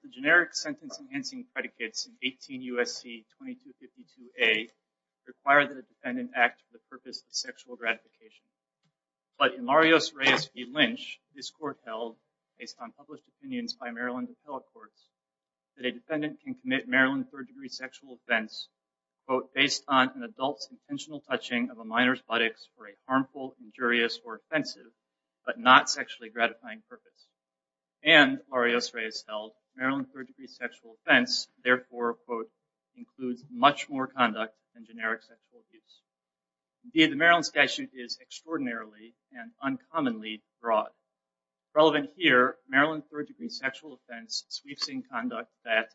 The generic sentence enhancing predicates in 18 U.S.C. 2252a require that a defendant act with purpose of sexual gratification. But in Larios-Reyes v. Lynch, this court held, based on published opinions by Maryland and telecourts, that a defendant can commit Maryland third-degree sexual offense, quote, based on an adult's intentional touching of a minor's buttocks for a harmful, injurious, or offensive, but not sexually gratifying purpose. And, Larios-Reyes held, Maryland third-degree sexual offense, therefore, quote, includes much more Indeed, the Maryland statute is extraordinarily and uncommonly broad. Relevant here, Maryland third-degree sexual offense sweeps in conduct that,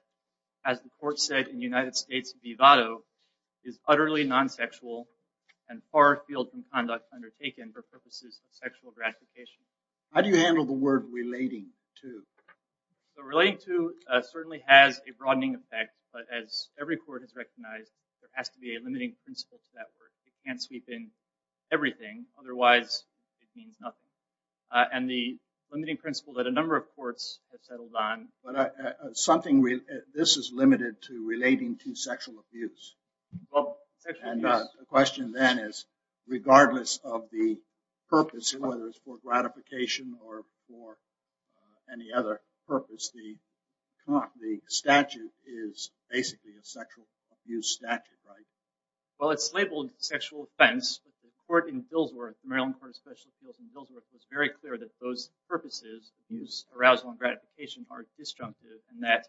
as the court said in United States v. Vado, is utterly non-sexual and far afield from conduct undertaken for purposes of sexual gratification. How do you handle the word relating to? Relating to certainly has a broadening effect, but as every court has recognized, there has to be a limiting principle to that word. It can't sweep in everything. Otherwise, it means nothing. And the limiting principle that a number of courts have settled on. But something, this is limited to relating to sexual abuse. And the question then is, regardless of the purpose, whether it's for gratification or for any other purpose, the statute is basically a sexual abuse statute, right? Well, it's labeled sexual offense, but the court in Billsworth, Maryland Court of Special Appeals in Billsworth, was very clear that those purposes, abuse, arousal, and gratification, are disjunctive and that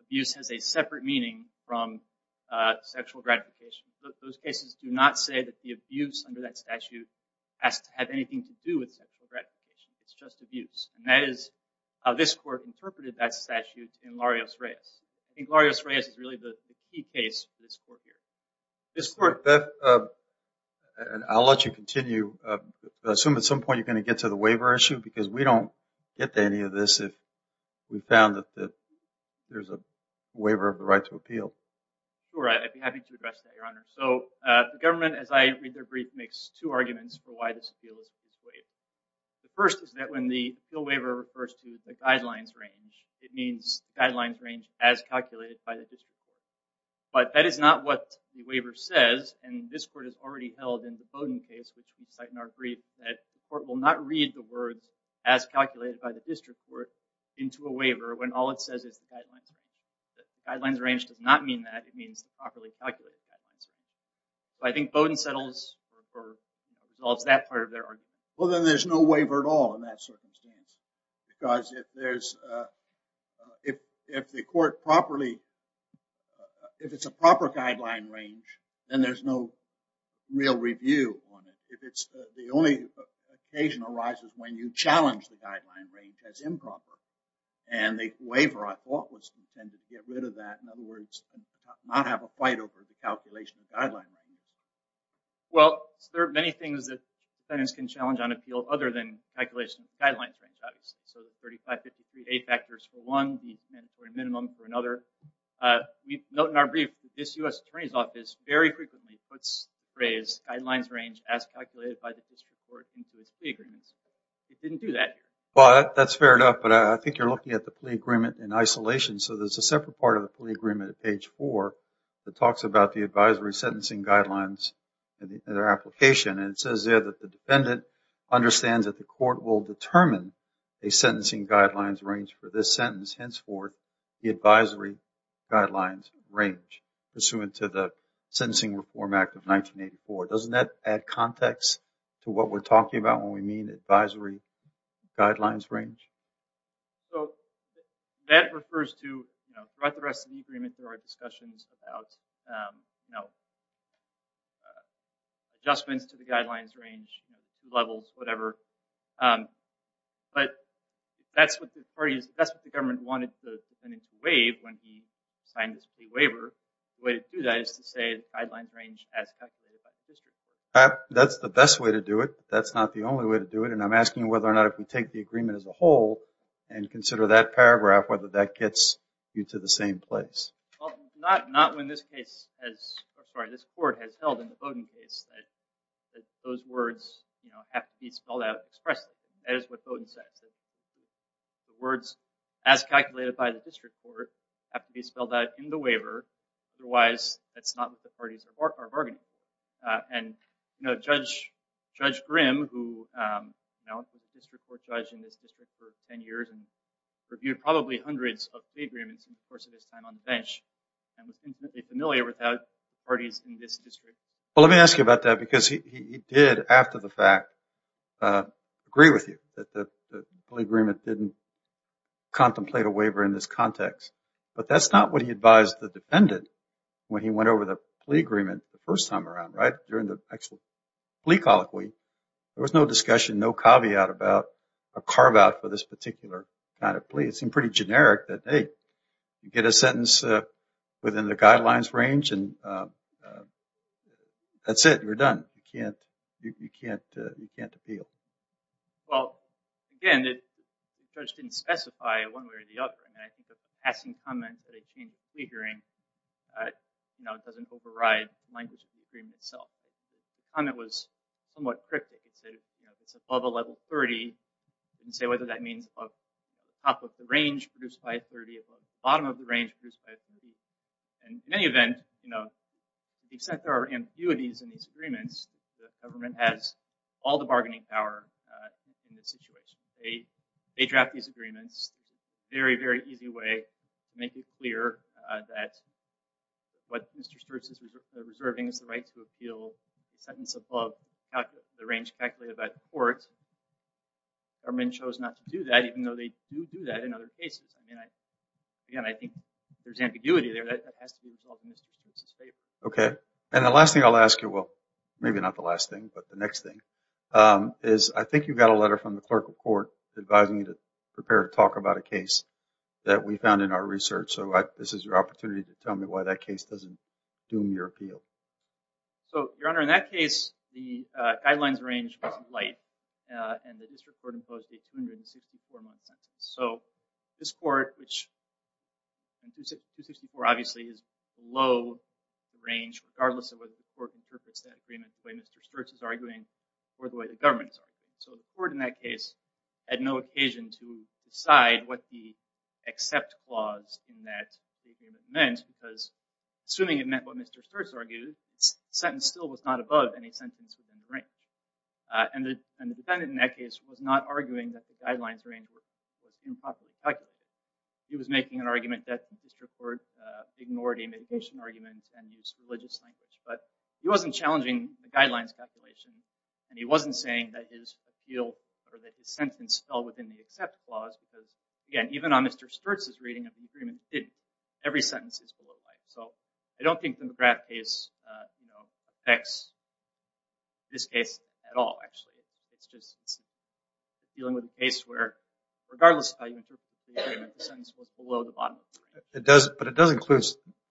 abuse has a separate meaning from sexual gratification. Those cases do not say that the abuse under that statute has to have anything to do with sexual gratification. It's just abuse. And that is how this court interpreted that statute in Larios-Reyes. I think Larios-Reyes is really the key case for this court here. I'll let you continue. I assume at some point you're going to get to the waiver issue, because we don't get to any of this if we found that there's a waiver of the right to appeal. Sure, I'd be happy to address that, Your Honor. So the government, as I read their brief, makes two arguments for why this appeal is not waived. The first is that when the appeal waiver refers to the guidelines range, it means guidelines range as calculated by the district court. But that is not what the waiver says, and this court has already held in the Bowdoin case, which we cite in our brief, that the court will not read the words as calculated by the district court into a waiver when all it says is the guidelines range. The guidelines range does not mean that. It means the properly calculated guidelines range. So I think Bowdoin settles or resolves that part of their argument. Well, then there's no waiver at all in that circumstance, because if there's, if the court properly, if it's a proper guideline range, then there's no real review on it. If it's, the only occasion arises when you challenge the guideline range as improper, and the waiver, I thought, was intended to get rid of that. In other words, not have a fight over the calculation of guideline. Well, there are many things that sentence can challenge on appeal other than calculation of guidelines range, obviously. So the 3553A factors for one, the mandatory minimum for another. We note in our brief that this U.S. Attorney's Office very frequently puts the phrase guidelines range as calculated by the district court into its plea agreements. It didn't do that. Well, that's fair enough, but I think you're looking at the plea agreement in isolation. So there's a separate part of the plea agreement at page four that talks about the advisory sentencing guidelines and their application, and it says there that the defendant understands that the court will determine a sentencing guidelines range for this sentence, henceforth the advisory guidelines range, pursuant to the Sentencing Reform Act of 1984. Doesn't that add context to what we're talking about when we mean advisory guidelines range? So that refers to, throughout the rest of the agreement, there are discussions about adjustments to the guidelines range, levels, whatever. But that's what the government wanted the defendant to waive when he signed his plea waiver. The way to do that is to say the guidelines range as calculated by the district court. That's the best way to do it. That's not the only way to do it, and I'm asking whether or not if we take the agreement as a whole and consider that paragraph, whether that gets you to the same place. Well, not when this case has, I'm sorry, this court has held in the Bowdoin case that those words, you know, have to be spelled out expressly. That is what Bowdoin says. The words as calculated by the district court have to be spelled out in the waiver, otherwise that's not what the parties are bargaining. And, you know, Judge Grimm, who, you know, was a district court judge in this district for 10 years and reviewed probably hundreds of plea agreements in the course of his time on the bench and was infinitely familiar with parties in this district. Well, let me ask you about that because he did, after the fact, agree with you that the plea agreement didn't contemplate a waiver in this context, but that's not what he advised the defendant when he went over the plea agreement the first time around, right, during the actual plea colloquy. There was no discussion, no caveat about a carve out for this particular kind of plea. It seemed pretty generic that, hey, you get a sentence within the guidelines range and that's it. You're done. You can't appeal. Well, again, the judge didn't specify one way or the other, and I think the passing comment that he changed the plea hearing, you know, doesn't override language of the agreement itself. The comment was somewhat cryptic. It said, you know, it's above a level 30. He didn't say whether that means above the top of the range produced by a 30, above the bottom of the range produced by a 30. And in any event, you know, the extent there are ambiguities in these agreements, the government has all the bargaining power in this situation. They draft these agreements in a very, very easy way to make it clear that what Mr. Sturtz is reserving is the right to appeal the sentence above the range calculated by the court. The government chose not to do that, even though they do do that in other cases. I mean, again, I think there's ambiguity there that has to be resolved in Mr. Sturtz's favor. Okay. And the last thing I'll ask you, well, maybe not the last thing, but the next thing, is I think you've got a letter from the clerical court advising you to prepare to talk about a case that we found in our research. So, this is your opportunity to tell me why that case doesn't do your appeal. So, Your Honor, in that case, the guidelines range was light, and the district court imposed a 264-month sentence. So, this court, which 264 obviously is below the range, regardless of whether the court interprets that agreement the way Mr. Sturtz is arguing or the way the government is arguing. So, the court in that case had no occasion to decide what the accept clause in that agreement meant, because assuming it meant what Mr. Sturtz argued, the sentence still was not above any sentence within the range. And the defendant in that case was not arguing that the guidelines range was improperly calculated. He was making an argument that the district court ignored a mitigation argument and used religious language. But he wasn't challenging the guidelines calculation, and he wasn't saying that his appeal or that his sentence fell within the accept clause, because again, even on Mr. Sturtz's reading of the agreement, it didn't. So, I don't think the McGrath case affects this case at all, actually. It's just dealing with a case where, regardless of how you interpret the agreement, the sentence was below the bottom. But it does include,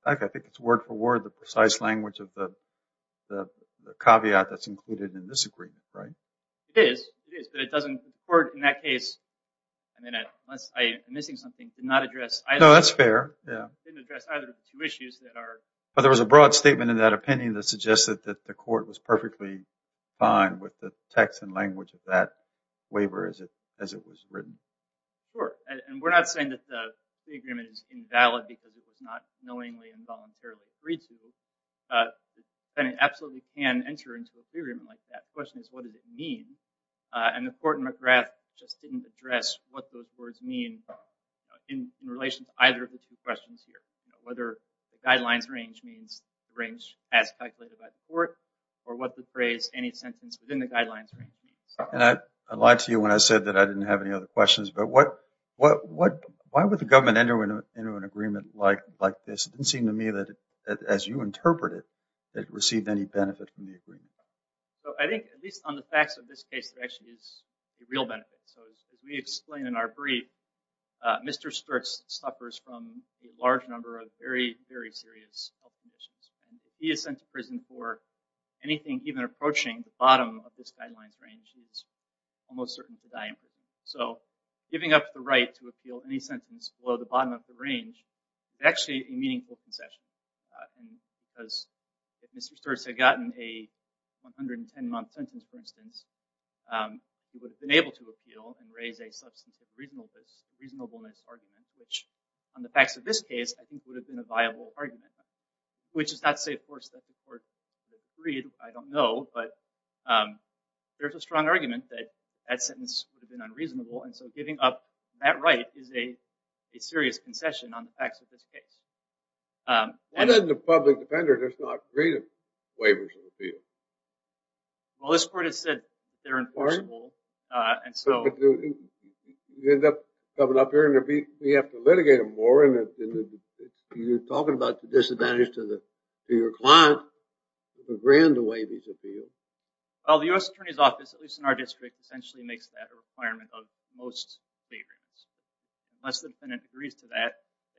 I think it's word for word, the precise language of the caveat that's included in this agreement, right? It is, it is, but the court in that case, I mean, unless I'm missing something, did not address either. No, that's fair, yeah. Didn't address either of the two issues that are... But there was a broad statement in that opinion that suggested that the court was perfectly fine with the text and language of that waiver as it was written. Sure, and we're not saying that the agreement is invalid because it was not knowingly and voluntarily agreed to. The defendant absolutely can enter into a free agreement like that. The question is, what does it mean? And the court in McGrath just didn't address what those words mean in relation to either of the two questions here. Whether the guidelines range means the range as calculated by the court, or what the phrase, any sentence within the guidelines range means. And I lied to you when I said that I didn't have any other questions, but why would the government enter into an agreement like this? It didn't seem to me that, as you interpret it, it received any benefit from the agreement. So I think, at least on the facts of this case, there actually is a real benefit. So as we explained in our brief, Mr. Sturtz suffers from a large number of very, very serious health conditions. And if he is sent to prison for anything even approaching the bottom of this guidelines range, he's almost certain to die in prison. So giving up the right to appeal any sentence below the bottom of the range is actually a meaningful concession. And because if Mr. Sturtz had gotten a 110-month sentence, for instance, he would have been able to appeal and raise a substantive reasonableness argument, which on the facts of this case, I think would have been a viable argument. Which is not to say, of course, that the court would have agreed. I don't know. But there's a strong argument that that sentence would have been unreasonable. And so giving up that right is a serious concession on the facts of this case. Why doesn't a public defender just not create a waiver to appeal? Well, this court has said they're enforceable. And so... You end up coming up here and we have to litigate them more. And you're talking about disadvantage to your client. It's a grand to waive these appeals. Well, the U.S. Attorney's Office, at least in our district, essentially makes that a requirement of most state rates. Unless the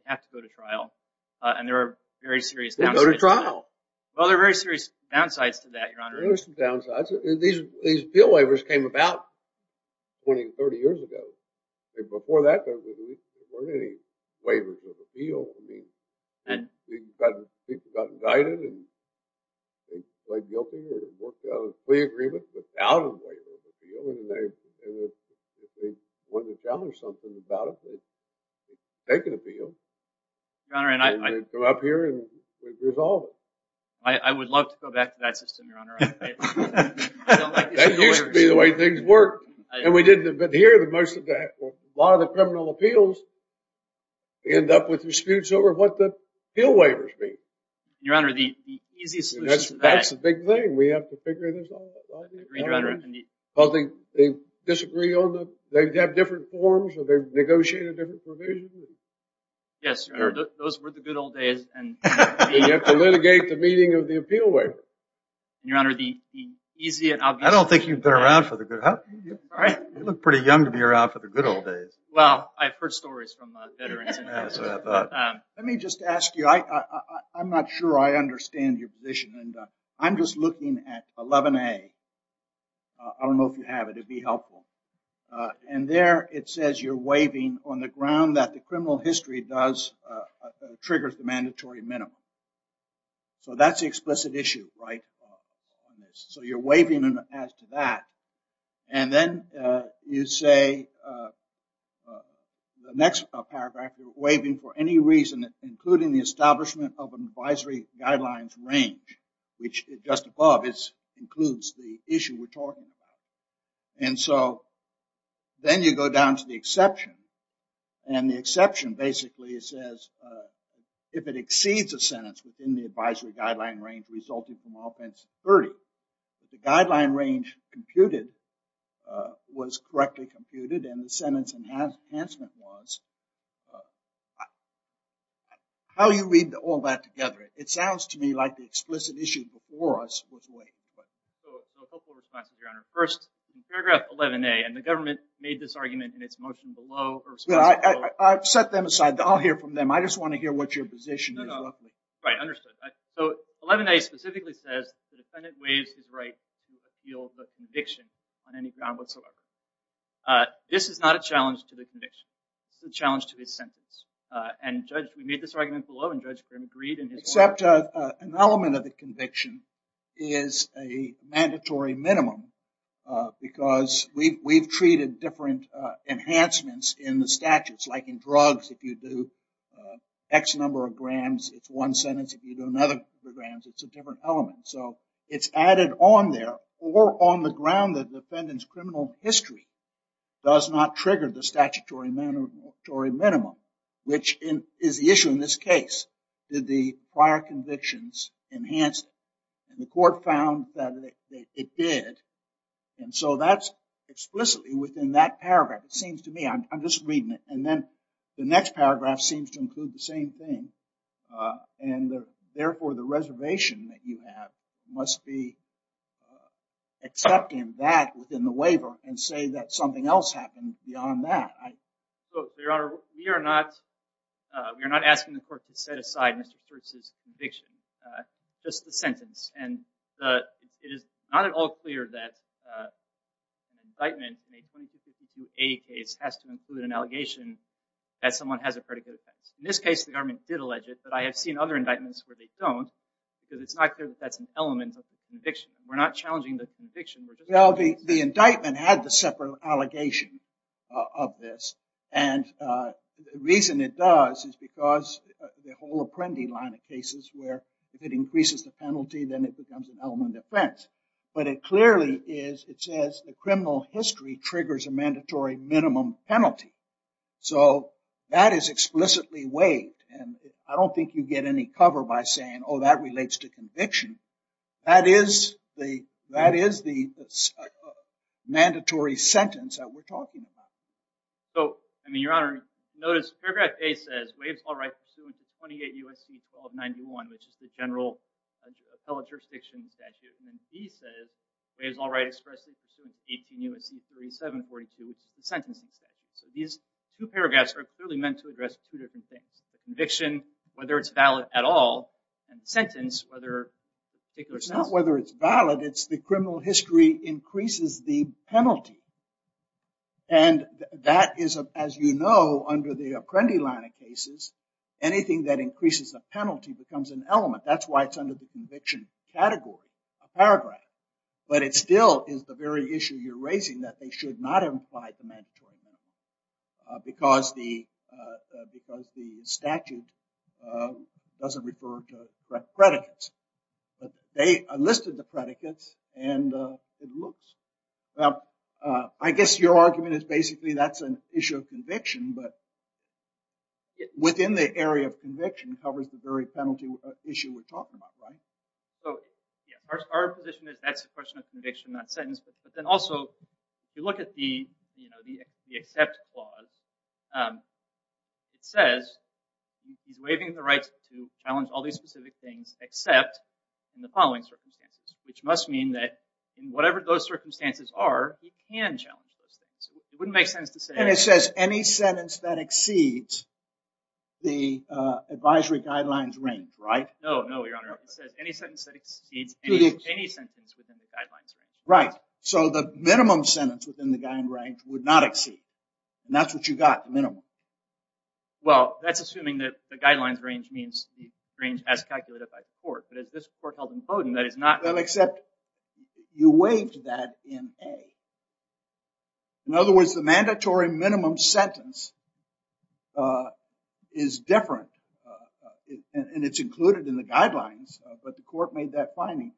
have to go to trial. And there are very serious downsides. Go to trial! Well, there are very serious downsides to that, Your Honor. There are some downsides. These appeal waivers came about 20, 30 years ago. Before that, there weren't any waivers of appeal. I mean, people got indicted and they pled guilty. They worked out a plea agreement without a waiver of appeal. And if they wanted to tell her something about it, they could appeal. They'd go up here and resolve it. I would love to go back to that system, Your Honor. That used to be the way things worked. And we didn't adhere to most of that. A lot of the criminal appeals end up with disputes over what the appeal waivers mean. Your Honor, the easiest solution to that... That's the big thing. We have to figure this out, right? I agree, Your Honor. Well, they disagree on the... They have different forms or they've negotiated different provisions? Yes, Your Honor. Those were the good old days. You have to litigate the meeting of the appeal waiver. Your Honor, the easiest... I don't think you've been around for the good... You look pretty young to be around for the good old days. Well, I've heard stories from veterans. Let me just ask you. I'm not sure I understand your position. And I'm just looking at 11A. I don't know if you have it. It'd be helpful. And there it says you're waiving on the ground that the criminal history triggers the mandatory minimum. So that's the explicit issue, right? So you're waiving as to that. And then you say, the next paragraph, you're waiving for any reason, including the establishment of an advisory guidelines range, which just above includes the issue we're talking about. And so then you go down to the exception. And the exception basically says, if it exceeds a sentence within the advisory guideline range resulting from offense 30, the guideline range computed was correctly computed and the sentence enhancement was... How do you read all that together? It sounds to me like the explicit issue before us was waived. So a couple of responses, Your Honor. First, in paragraph 11A, and the government made this argument in its motion below... I've set them aside. I'll hear from them. I just want to hear what your position is. No, no. Right. Understood. So 11A specifically says the defendant waives his right to appeal the conviction on any ground whatsoever. This is not a challenge to the conviction. It's a challenge to his sentence. And Judge, we made this argument below and Judge Grimm agreed in his... Except an element of the conviction is a mandatory minimum because we've treated different enhancements in the statutes, like in drugs, if you do X number of grams, it's one sentence. If you do another number of grams, it's a different element. So it's added on there or on the ground that defendant's criminal history does not trigger the statutory minimum. Which is the issue in this case. Did the prior convictions enhance it? And the court found that it did. And so that's explicitly within that paragraph, it seems to me. I'm just reading it. And then the next paragraph seems to include the same thing. And therefore, the reservation that you have must be accepting that within the waiver and say that something else happened beyond that. Your Honor, we are not asking the court to set aside Mr. Church's conviction. Just the sentence. And it is not at all clear that an indictment in a 2252A case has to include an allegation that someone has a predicate offense. In this case, the government did allege it. But I have seen other indictments where they don't because it's not clear that that's an element of the conviction. We're not challenging the conviction. The indictment had the separate allegation of this. And the reason it does is because the whole Apprendi line of cases where if it increases the penalty, then it becomes an element of offense. But it clearly is, it says the criminal history triggers a mandatory minimum penalty. So that is explicitly waived. And I don't think you get any cover by saying, oh, that relates to conviction. That is the mandatory sentence that we're talking about. So, I mean, Your Honor, notice paragraph A says, waives all rights pursuant to 28 U.S.C. 1291, which is the general appellate jurisdiction statute. And then B says, waives all rights expressly pursuant to 18 U.S.C. 3742, which is the sentencing statute. So these two paragraphs are clearly meant to address two different things. The conviction, whether it's valid at all. And the sentence, whether a particular sentence. It's not whether it's valid. It's the criminal history increases the penalty. And that is, as you know, under the Apprendi line of cases, anything that increases the penalty becomes an element. That's why it's under the conviction category, a paragraph. But it still is the very issue you're raising, that they should not have implied the mandatory minimum. Because the statute doesn't refer to predicates. They listed the predicates and it looks. Now, I guess your argument is basically that's an issue of conviction. But within the area of conviction covers the very penalty issue we're talking about, right? So, yeah, our position is that's a question of conviction, not sentence. But then also, if you look at the accept clause, it says he's waiving the right to challenge all these specific things, except in the following circumstances. Which must mean that in whatever those circumstances are, he can challenge those things. It wouldn't make sense to say- And it says any sentence that exceeds the advisory guidelines range, right? No, no, Your Honor. It says any sentence that exceeds any sentence within the guidelines range. Right. So the minimum sentence within the guidelines range would not exceed. And that's what you got, minimum. Well, that's assuming that the guidelines range means the range as calculated by the court. But as this court held in Bowdoin, that is not- Well, except you waived that in A. In other words, the mandatory minimum sentence is different. And it's included in the guidelines. But the court made that finding.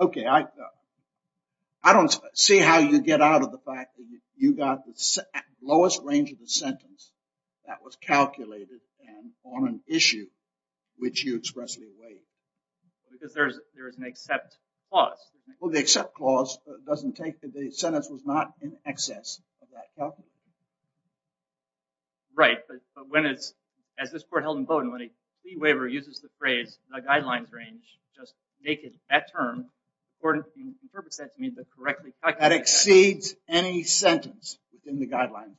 Okay, I don't see how you get out of the fact that you got the lowest range of the sentence that was calculated and on an issue which you expressly waived. Because there is an accept clause. Well, the accept clause doesn't take the sentence was not in excess of that. Right. But when it's, as this court held in Bowdoin, when a plea waiver uses the phrase, the guidelines range, just make it that term, court interprets that to mean the correctly calculated- That exceeds any sentence within the guidelines range.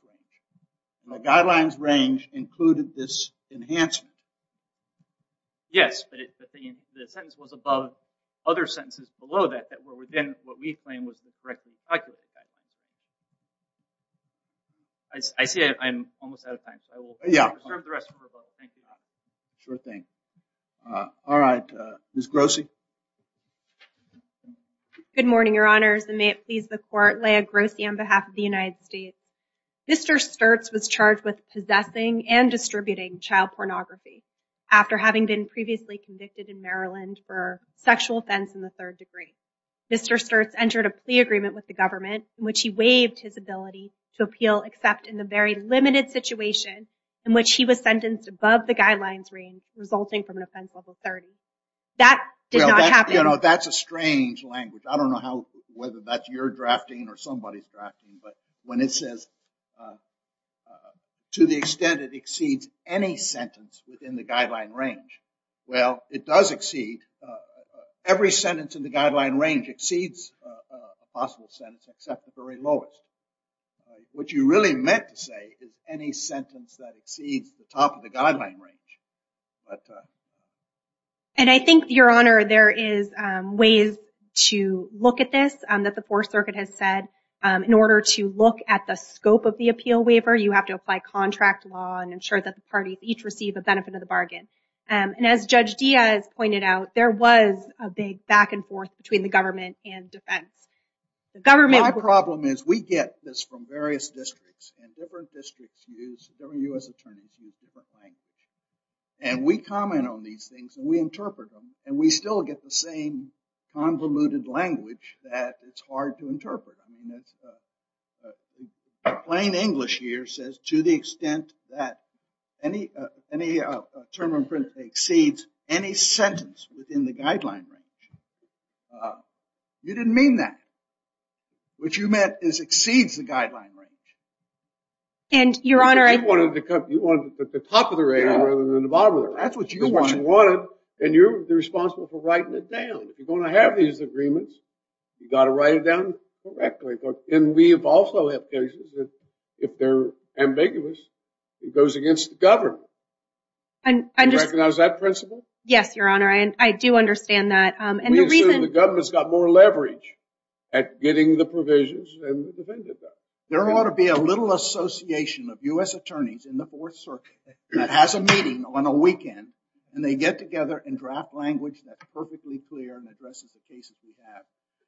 The guidelines range included this enhancement. Yes, but the sentence was above other sentences below that, that were within what we claim was the correctly calculated fact. I see I'm almost out of time. So I will- Yeah. Serve the rest of the rebuttal, thank you. Sure thing. All right, Ms. Grossi. Good morning, your honors. And may it please the court, Leah Grossi on behalf of the United States. Mr. Sturtz was charged with possessing and distributing child pornography after having been previously convicted in Maryland for sexual offense in the third degree. Mr. Sturtz entered a plea agreement with the government in which he waived his ability to appeal except in the very limited situation in which he was sentenced above the guidelines range resulting from an offense level 30. That did not happen. You know, that's a strange language. I don't know whether that's your drafting or somebody's drafting, but when it says, to the extent it exceeds any sentence within the guideline range, well, it does exceed. Every sentence in the guideline range exceeds a possible sentence except the very lowest. What you really meant to say is any sentence that exceeds the top of the guideline range. And I think, your honor, there is ways to look at this that the Fourth Circuit has said. In order to look at the scope of the appeal waiver, you have to apply contract law and ensure that the parties each receive a benefit of the bargain. And as Judge Diaz pointed out, there was a big back and forth between the government and defense. My problem is we get this from various districts and different districts use, different U.S. attorneys use different language. And we comment on these things and we interpret them and we still get the same convoluted language that it's hard to interpret. I mean, plain English here says, to the extent that any term of offense exceeds any sentence within the guideline range. Uh, you didn't mean that. What you meant is exceeds the guideline range. And your honor, You wanted to put the top of the range rather than the bottom of the range. That's what you wanted and you're responsible for writing it down. If you're going to have these agreements, you got to write it down correctly. And we have also had cases that if they're ambiguous, it goes against the government. And I just, Do you recognize that principle? Yes, your honor. And I do understand that. The government's got more leverage at getting the provisions than the defendant does. There ought to be a little association of U.S. attorneys in the fourth circuit that has a meeting on a weekend and they get together and draft language that's perfectly clear and addresses the cases we have.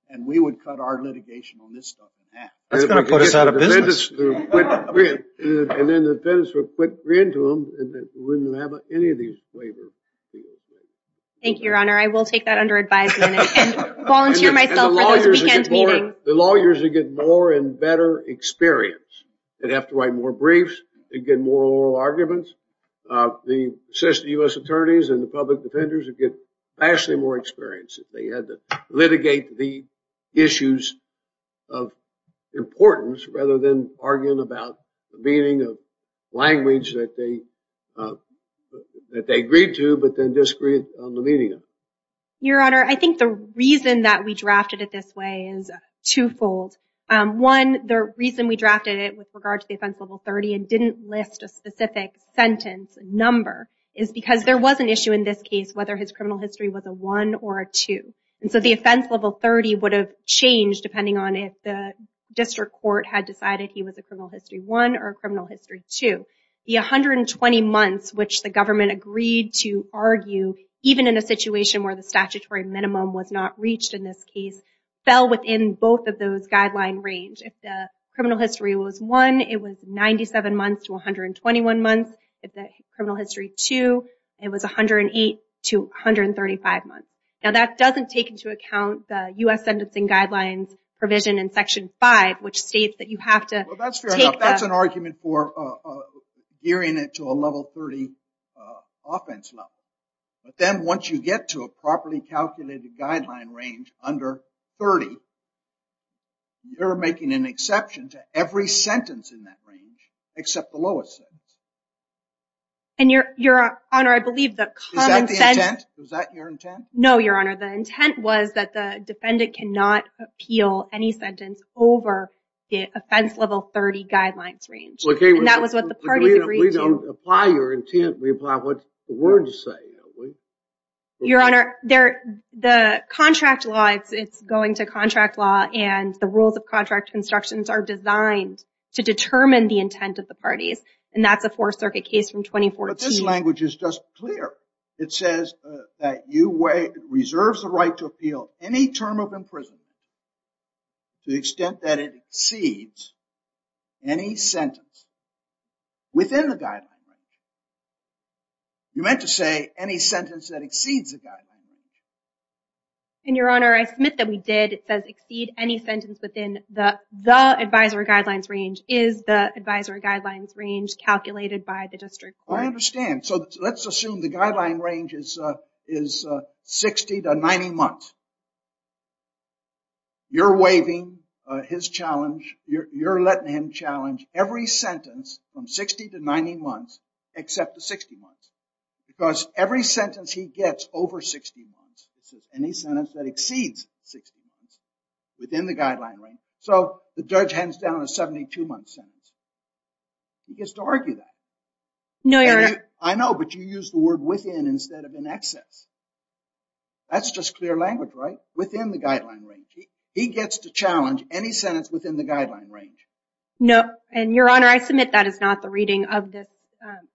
And we would cut our litigation on this stuff than that. That's going to put us out of business. And then the defendants would quit reading to them and then we wouldn't have any of these flavors. Thank you, your honor. I will take that under advisement and volunteer myself for this weekend meeting. The lawyers would get more and better experience. They'd have to write more briefs. They'd get more oral arguments. The U.S. attorneys and the public defenders would get vastly more experience if they had to litigate the issues of importance rather than arguing about the meaning of language that they agreed to, but then disagreed on the meeting. Your honor, I think the reason that we drafted it this way is twofold. One, the reason we drafted it with regard to the offense level 30 and didn't list a specific sentence number is because there was an issue in this case whether his criminal history was a one or a two. And so the offense level 30 would have changed depending on if the district court had decided he was a criminal history one or a criminal history two. The 120 months which the government agreed to argue even in a situation where the statutory minimum was not reached in this case fell within both of those guideline range. If the criminal history was one, it was 97 months to 121 months. If the criminal history two, it was 108 to 135 months. Now that doesn't take into account the U.S. Sentencing Guidelines provision in section five which states that you have to- Well, that's fair enough. That's an argument for gearing it to a level 30 offense level. But then once you get to a properly calculated guideline range under 30, you're making an exception to every sentence in that range except the lowest sentence. And your honor, I believe the common sense- Is that the intent? Was that your intent? No, your honor. The intent was that the defendant cannot appeal any sentence over the offense level 30 guidelines range. And that was what the party agreed to. We don't apply your intent. We apply what the words say. Your honor, the contract law, it's going to contract law and the rules of contract constructions are designed to determine the intent of the parties. And that's a fourth circuit case from 2014. But this language is just clear. It says that you wait, reserves the right to appeal any term of imprisonment to the extent that it exceeds any sentence within the guideline range. You meant to say any sentence that exceeds the guideline range. And your honor, I submit that we did. It says exceed any sentence within the advisory guidelines range is the advisory guidelines range calculated by the district court. I understand. So let's assume the guideline range is 60 to 90 months. You're waiving his challenge. You're letting him challenge every sentence from 60 to 90 months except the 60 months. Because every sentence he gets over 60 months, it says any sentence that exceeds 60 months within the guideline range. So the judge hands down a 72 month sentence. He gets to argue that. I know, but you use the word within instead of in excess. That's just clear language, right? Within the guideline range. He gets to challenge any sentence within the guideline range. No. And your honor, I submit that is not the reading of this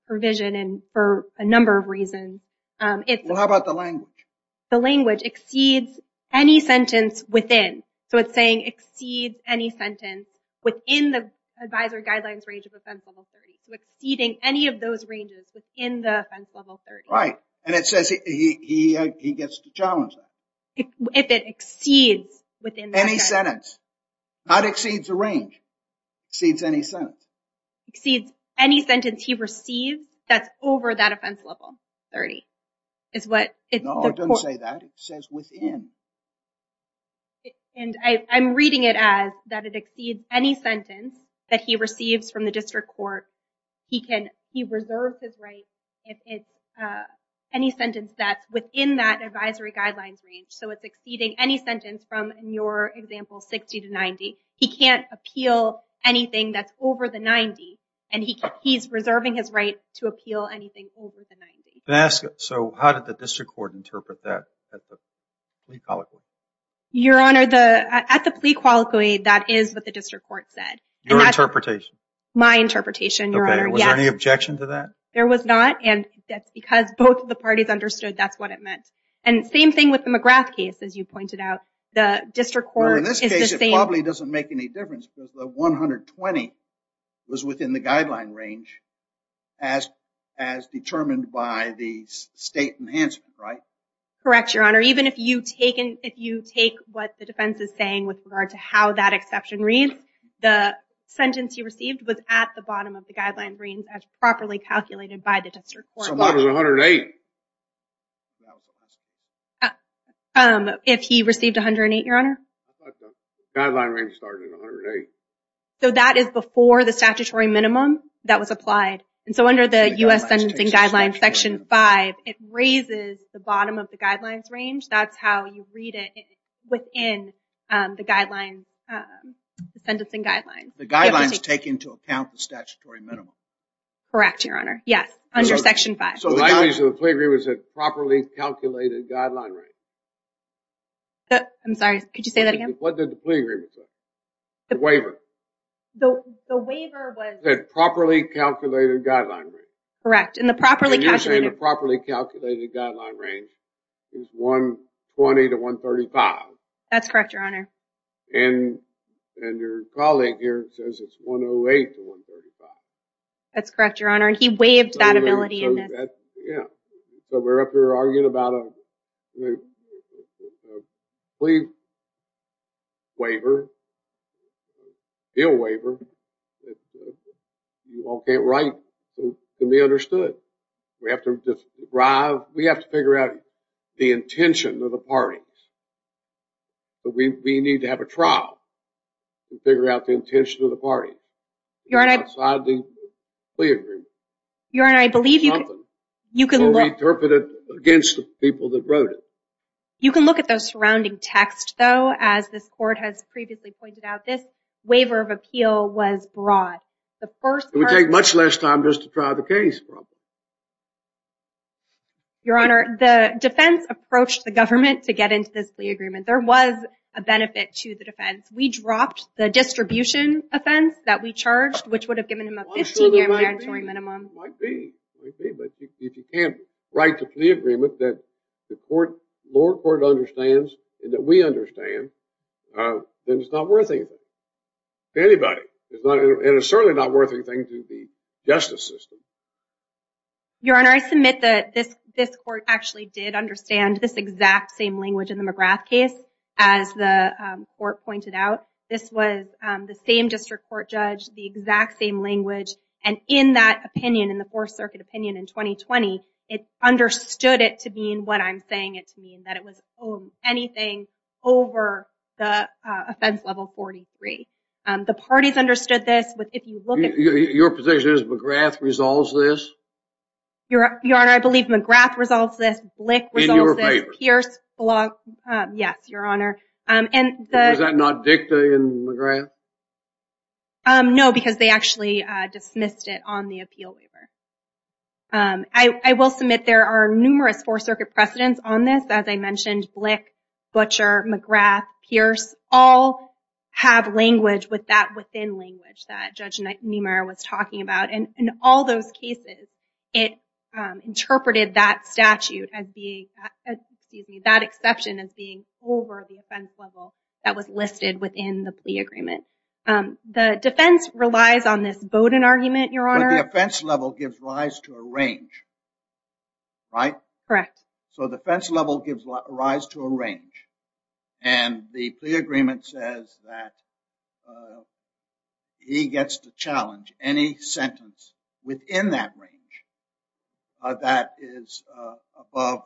provision. And for a number of reasons. Well, how about the language? The language exceeds any sentence within. So it's saying exceeds any sentence within the advisory guidelines range of offense level 30. So exceeding any of those ranges within the offense level 30. Right. And it says he gets to challenge that. If it exceeds within that sentence. Any sentence. Not exceeds the range. Exceeds any sentence. Exceeds any sentence he receives that's over that offense level 30. Is what. No, don't say that. It says within. And I'm reading it as that it exceeds any sentence that he receives from the district court. He can, he reserves his right if it's any sentence that's within that advisory guidelines range. So it's exceeding any sentence from your example, 60 to 90. He can't appeal anything that's over the 90. And he's reserving his right to appeal anything over the 90. So how did the district court interpret that at the plea colloquy? Your Honor, at the plea colloquy that is what the district court said. Your interpretation. My interpretation, Your Honor. Was there any objection to that? There was not. And that's because both of the parties understood that's what it meant. And same thing with the McGrath case as you pointed out. The district court. In this case it probably doesn't make any difference because the 120 was within the guideline range as determined by the state enhancement, right? Correct, Your Honor. Even if you take what the defense is saying with regard to how that exception reads, the sentence he received was at the bottom of the guideline range as properly calculated by the district court. So mine was 108. If he received 108, Your Honor? I thought the guideline range started at 108. So that is before the statutory minimum that was applied. And so under the U.S. Sentencing Guidelines Section 5, it raises the bottom of the guidelines range. That's how you read it within the guidelines, the sentencing guidelines. The guidelines take into account the statutory minimum. Correct, Your Honor. Yes, under Section 5. So the boundaries of the plea agreement was a properly calculated guideline range. I'm sorry, could you say that again? What did the plea agreement say? The waiver. The waiver was... The properly calculated guideline range. Correct. And the properly calculated... The properly calculated guideline range is 120 to 135. That's correct, Your Honor. And your colleague here says it's 108 to 135. That's correct, Your Honor. And he waived that ability. Yeah. So we're up here arguing about a plea waiver, a bill waiver. You all can't write to be understood. We have to derive... We have to figure out the intention of the parties. But we need to have a trial to figure out the intention of the parties. Your Honor... Outside the plea agreement. Your Honor, I believe you can... Something. You can look... So we interpret it against the people that wrote it. You can look at the surrounding text, though. As this court has previously pointed out, this waiver of appeal was broad. The first part... It would take much less time just to try the case, probably. Your Honor, the defense approached the government to get into this plea agreement. There was a benefit to the defense. We dropped the distribution offense that we charged, which would have given him a 15-year mandatory minimum. Might be, might be. But if you can't write the plea agreement, that the court... lower court understands, and that we understand, then it's not worth anything to anybody. It's not... And it's certainly not worth anything to the justice system. Your Honor, I submit that this court actually did understand this exact same language in the McGrath case, as the court pointed out. This was the same district court judge, the exact same language. And in that opinion, in the Fourth Circuit opinion in 2020, it understood it to mean what I'm saying it to mean, that it was anything over the offense level 43. The parties understood this, but if you look at... Your position is McGrath resolves this? Your Honor, I believe McGrath resolves this, Blick resolves this, Pierce... Yes, Your Honor. Was that not dicta in McGrath? No, because they actually dismissed it on the appeal waiver. I will submit there are numerous Fourth Circuit precedents on this. As I mentioned, Blick, Butcher, McGrath, Pierce, all have language with that within language that Judge Niemeyer was talking about. And in all those cases, it interpreted that statute as being... Excuse me, that exception as being over the offense level that was listed within the plea agreement. The defense relies on this Bowdoin argument, Your Honor. The offense level gives rise to a range, right? Correct. So the offense level gives rise to a range. And the plea agreement says that he gets to challenge any sentence within that range that is above,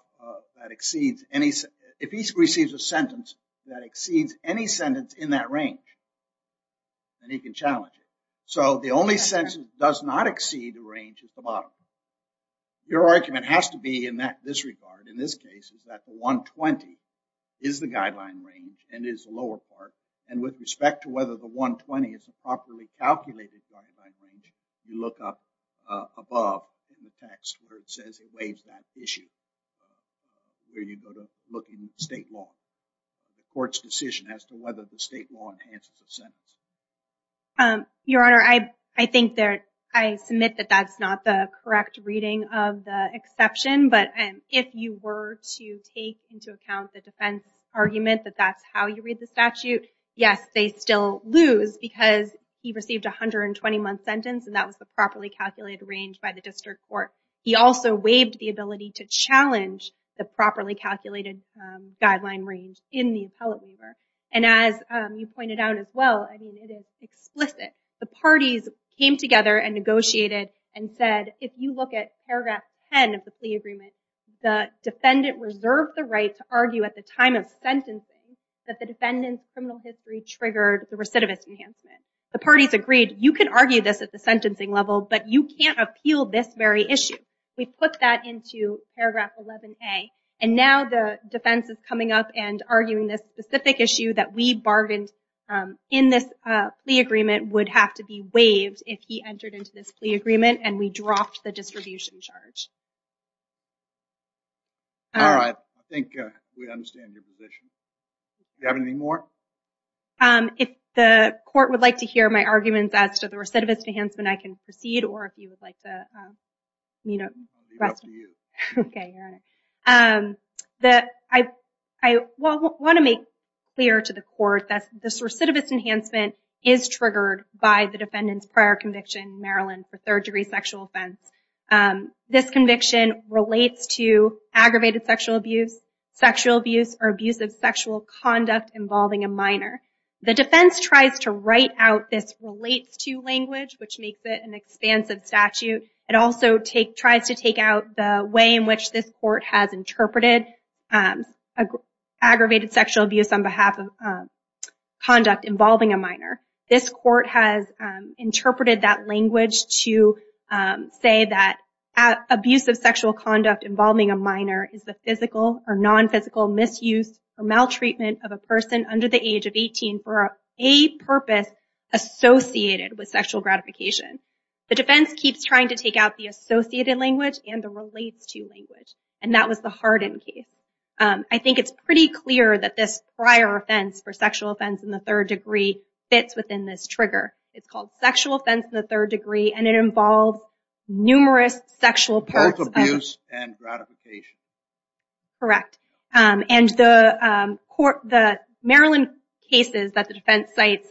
that exceeds any... If he receives a sentence that exceeds any sentence in that range, then he can challenge it. So the only sentence does not exceed the range at the bottom. Your argument has to be in this regard, in this case, is that the 120 is the guideline range and is the lower part. And with respect to whether the 120 is a properly calculated guideline range, you look up above in the text where it says it weighs that issue, where you go to look in state law, the court's decision as to whether the state law enhances a sentence. Your Honor, I think that I submit that that's not the correct reading of the exception. But if you were to take into account the defense argument that that's how you read the statute, yes, they still lose because he received a 120-month sentence and that was the properly calculated range by the district court. He also waived the ability to challenge the properly calculated guideline range in the appellate waiver. And as you pointed out as well, it is explicit. The parties came together and negotiated and said, if you look at paragraph 10 of the plea agreement, the defendant reserved the right to argue at the time of sentencing that the defendant's criminal history triggered the recidivist enhancement. The parties agreed, you can argue this at the sentencing level, but you can't appeal this very issue. We put that into paragraph 11a. And now the defense is coming up and arguing this specific issue that we bargained in this plea agreement would have to be waived if he entered into this plea agreement and we dropped the distribution charge. All right. I think we understand your position. Do you have any more? If the court would like to hear my arguments as to the recidivist enhancement, I can proceed. Or if you would like to, you know... I'll leave it up to you. Okay. I want to make clear to the court that this recidivist enhancement is triggered by the defendant's prior conviction in Maryland for third-degree sexual offense. This conviction relates to aggravated sexual abuse, sexual abuse, or abuse of sexual conduct involving a minor. The defense tries to write out this relates to language, which makes it an expansive statute. It also tries to take out the way in which this court has interpreted aggravated sexual abuse on behalf of conduct involving a minor. This court has interpreted that language to say that abuse of sexual conduct involving a minor is the physical or non-physical misuse or maltreatment of a person under the age of 18 for a purpose associated with sexual gratification. The defense keeps trying to take out the associated language and the relates to language, and that was the Hardin case. I think it's pretty clear that this prior offense for sexual offense in the third degree fits within this trigger. It's called sexual offense in the third degree, and it involves numerous sexual parts of abuse and gratification. Correct. And the Maryland cases that the defense cites,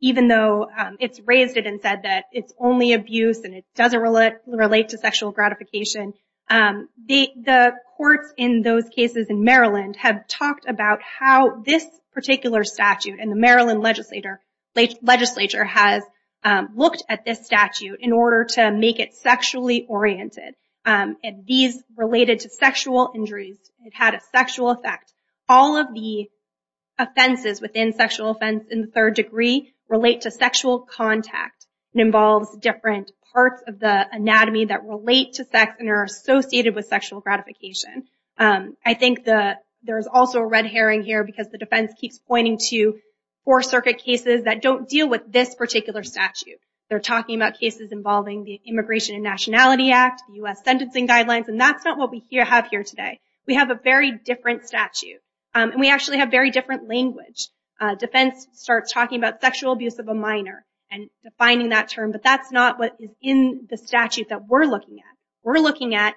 even though it's raised it and said that it's only abuse and it doesn't relate to sexual gratification, the courts in those cases in Maryland have talked about how this particular statute in the Maryland legislature has looked at this statute in order to make it sexually oriented. These related to sexual injuries. It had a sexual effect. All of the offenses within sexual offense in the third degree relate to sexual contact. It involves different parts of the anatomy that relate to sex and are associated with sexual gratification. I think there's also a red herring here because the defense keeps pointing to four circuit cases that don't deal with this particular statute. They're talking about cases involving the Immigration and Nationality Act, U.S. Sentencing Guidelines, and that's not what we have here today. We have a very different statute, and we actually have very different language. Defense starts talking about sexual abuse of a minor and defining that term, but that's not what is in the statute that we're looking at. We're looking at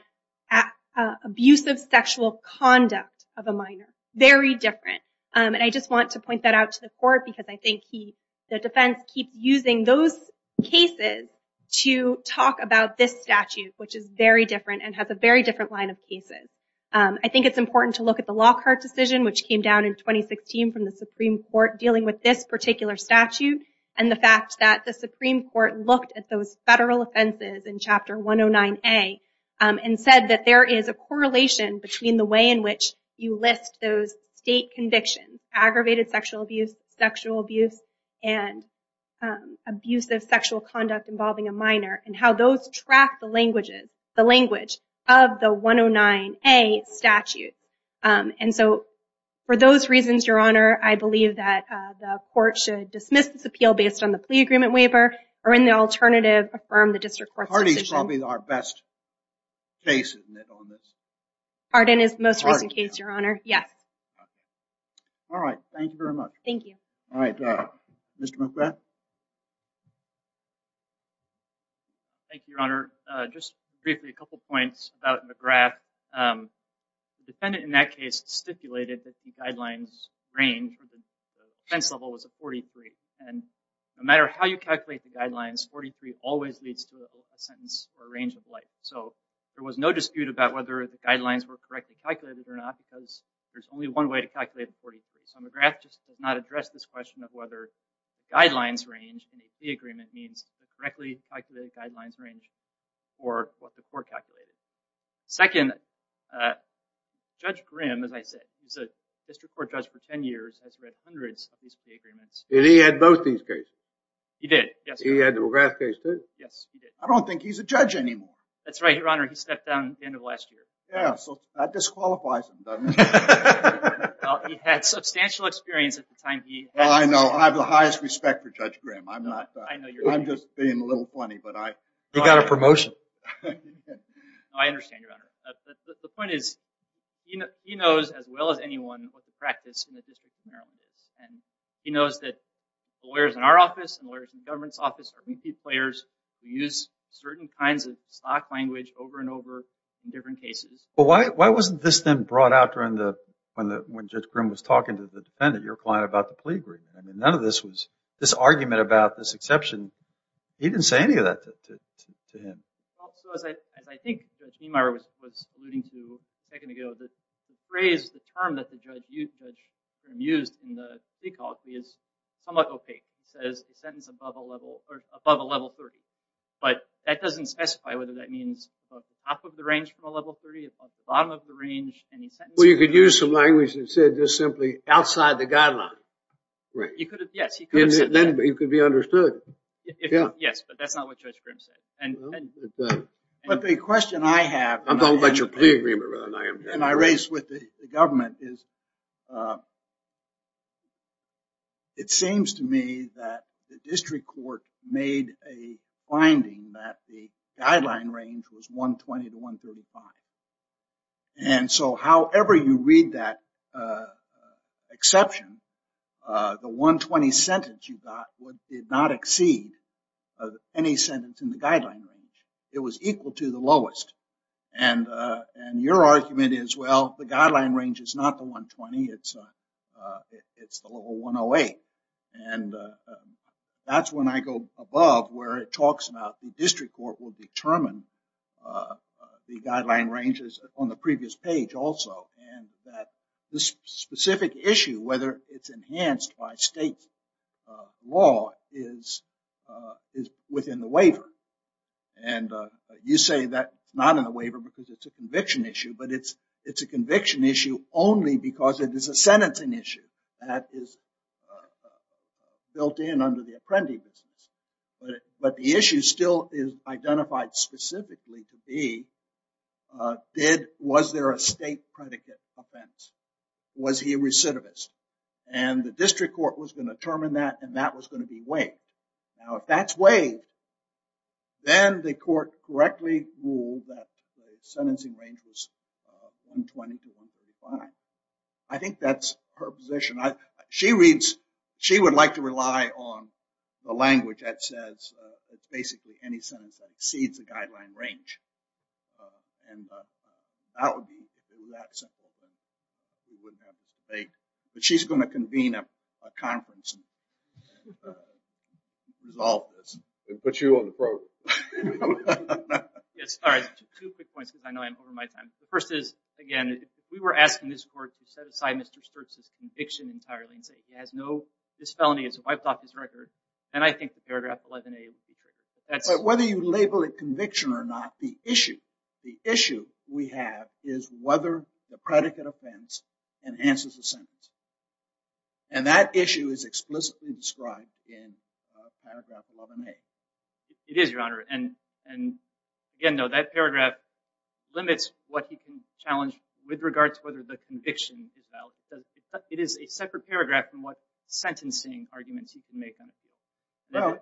abusive sexual conduct of a minor. Very different. And I just want to point that out to the court because I think the defense keeps using those cases to talk about this statute, which is very different and has a very different line of cases. I think it's important to look at the Lockhart decision, which came down in 2016 from the Supreme Court dealing with this particular statute and the fact that the Supreme Court looked at those federal offenses in Chapter 109A and said that there is a correlation between the way in which you list those state convictions, aggravated sexual abuse, sexual abuse, and abusive sexual conduct involving a minor and how those track the languages, the language of the 109A statute. And so for those reasons, Your Honor, I believe that the court should dismiss this appeal based on the plea agreement waiver or in the alternative, affirm the district court's decision. Harding is probably our best case on this. Harding is the most recent case, Your Honor. Yes. All right. Thank you very much. Thank you. All right. Mr. McGrath. Thank you, Your Honor. Just briefly, a couple of points about McGrath. The defendant in that case stipulated that the guidelines range from the defense level was a 43 and no matter how you calculate the guidelines, 43 always leads to a sentence or a range of life. So there was no dispute about whether the guidelines were correctly calculated or not because there's only one way to calculate a 43. So McGrath just did not address this question of whether guidelines range in a plea agreement means correctly calculated guidelines range for what the court calculated. Second, Judge Grimm, as I said, he's a district court judge for 10 years, has read hundreds of these plea agreements. He had both these cases? He did, yes. He had the McGrath case too? Yes, he did. I don't think he's a judge anymore. That's right, Your Honor. He stepped down at the end of last year. Yeah, so that disqualifies him, doesn't it? He had substantial experience at the time he... Well, I know. I have the highest respect for Judge Grimm. I'm not... I'm just being a little funny, but I... He got a promotion. No, I understand, Your Honor. The point is, he knows as well as anyone what the practice in the District of Maryland is. He knows that the lawyers in our office and the lawyers in the government's office are repeat players who use certain kinds of stock language over and over in different cases. But why wasn't this then brought out during the... when Judge Grimm was talking to the defendant, your client, about the plea agreement? I mean, none of this was... This argument about this exception, he didn't say any of that to him. So as I think Judge Niemeyer was alluding to a second ago, the phrase, the term that the judge used, Judge Grimm used in the plea call plea is somewhat opaque. It says the sentence above a level... or above a level 30. But that doesn't specify whether that means above the top of the range from a level 30, above the bottom of the range, any sentence... Well, you could use some language that said just simply outside the guidelines. Right. You could have... Yes, he could have said that. It could be understood. Yes, but that's not what Judge Grimm said. But the question I have... I'm talking about your plea agreement, rather than I am... And I raised with the government is... It seems to me that the district court made a finding that the guideline range was 120 to 135. And so however you read that exception, the 120 sentence you got did not exceed any sentence in the guideline range. It was equal to the lowest. And your argument is, well, the guideline range is not the 120. It's the level 108. And that's when I go above where it talks about the district court will determine the guideline ranges on the previous page also. And that this specific issue, whether it's enhanced by state law is within the waiver. And you say that it's not in the waiver because it's a conviction issue, but it's a conviction issue only because it is a sentencing issue that is built in under the apprendee business. But the issue still is identified specifically to be, was there a state predicate offense? Was he a recidivist? And the district court was going to determine that, and that was going to be waived. Now, if that's waived, then the court correctly ruled that the sentencing range was 120 to 135. I think that's her position. She reads, she would like to rely on the language that says it's basically any sentence that exceeds the guideline range. And that would be that simple. But she's going to convene a conference and resolve this. And put you on the program. Yes. All right. Two quick points, I know I'm over my time. The first is, again, if we were asking this court to set aside Mr. Sturtz's conviction entirely and say he has no, this felony is wiped off his record, then I think the paragraph 11a would be correct. But whether you label it conviction or not, the issue, the issue we have is whether the predicate offense enhances the sentence. And that issue is explicitly described in paragraph 11a. It is, Your Honor. And again, no, that paragraph limits what he can challenge with regard to whether the conviction is valid. It is a separate paragraph from what sentencing arguments he can make on it.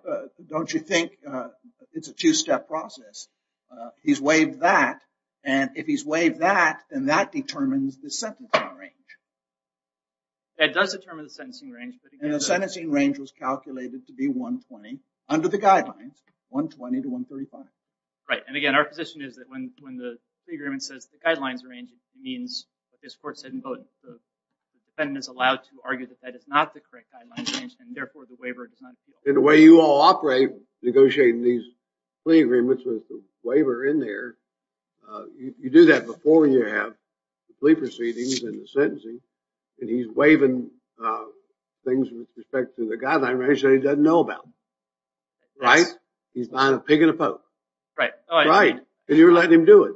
No, don't you think it's a two-step process. He's waived that. And if he's waived that, then that determines the sentencing range. That does determine the sentencing range. And the sentencing range was calculated to be 120 under the guidelines, 120 to 135. Right. And again, our position is that when the plea agreement says the guidelines range, it means what this court said in voting. The defendant is allowed to argue that that is not the correct guidelines range, and therefore the waiver does not appeal. And the way you all operate negotiating these plea agreements with the waiver in there, you do that before you have the plea proceedings and the sentencing. And he's waiving things with respect to the guideline range that he doesn't know about. Right. He's not a pig in a poke. Right. And you're letting him do it.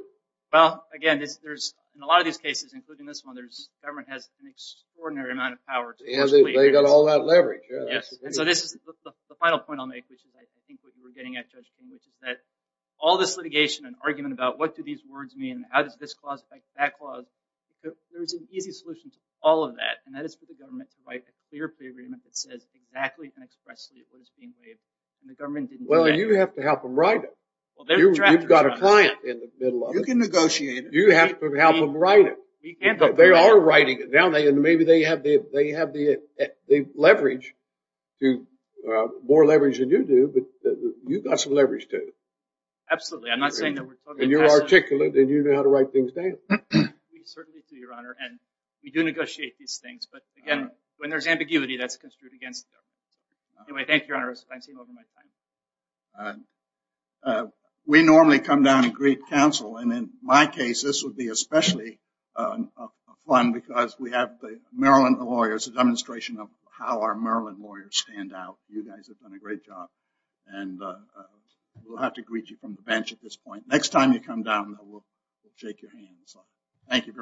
Well, again, there's, in a lot of these cases, including this one, there's government has an extraordinary amount of power. And they've got all that leverage. Yes. And so this is the final point I'll make, which is I think what you were getting at, Judge King, which is that all this litigation and argument about what do these words mean? How does this clause fight that clause? There's an easy solution to all of that. And that is for the government to write a clear plea agreement that says exactly and expressly what is being waived. And the government didn't do that. Well, you have to help them write it. You've got a client in the middle of it. You can negotiate it. You have to help them write it. They are writing it down. Maybe they have the leverage to more leverage than you do. But you've got some leverage too. Absolutely. I'm not saying that we're talking. You're articulate and you know how to write things down. We certainly do, Your Honor. And we do negotiate these things. But again, when there's ambiguity, that's construed against them. Anyway, thank you, Your Honor. I'm seeing over my time. We normally come down and greet counsel. And in my case, this would be especially fun because we have the Maryland lawyers, a demonstration of how our Maryland lawyers stand out. You guys have done a great job. And we'll have to greet you from the bench at this point. Next time you come down, we'll shake your hands. Thank you very much.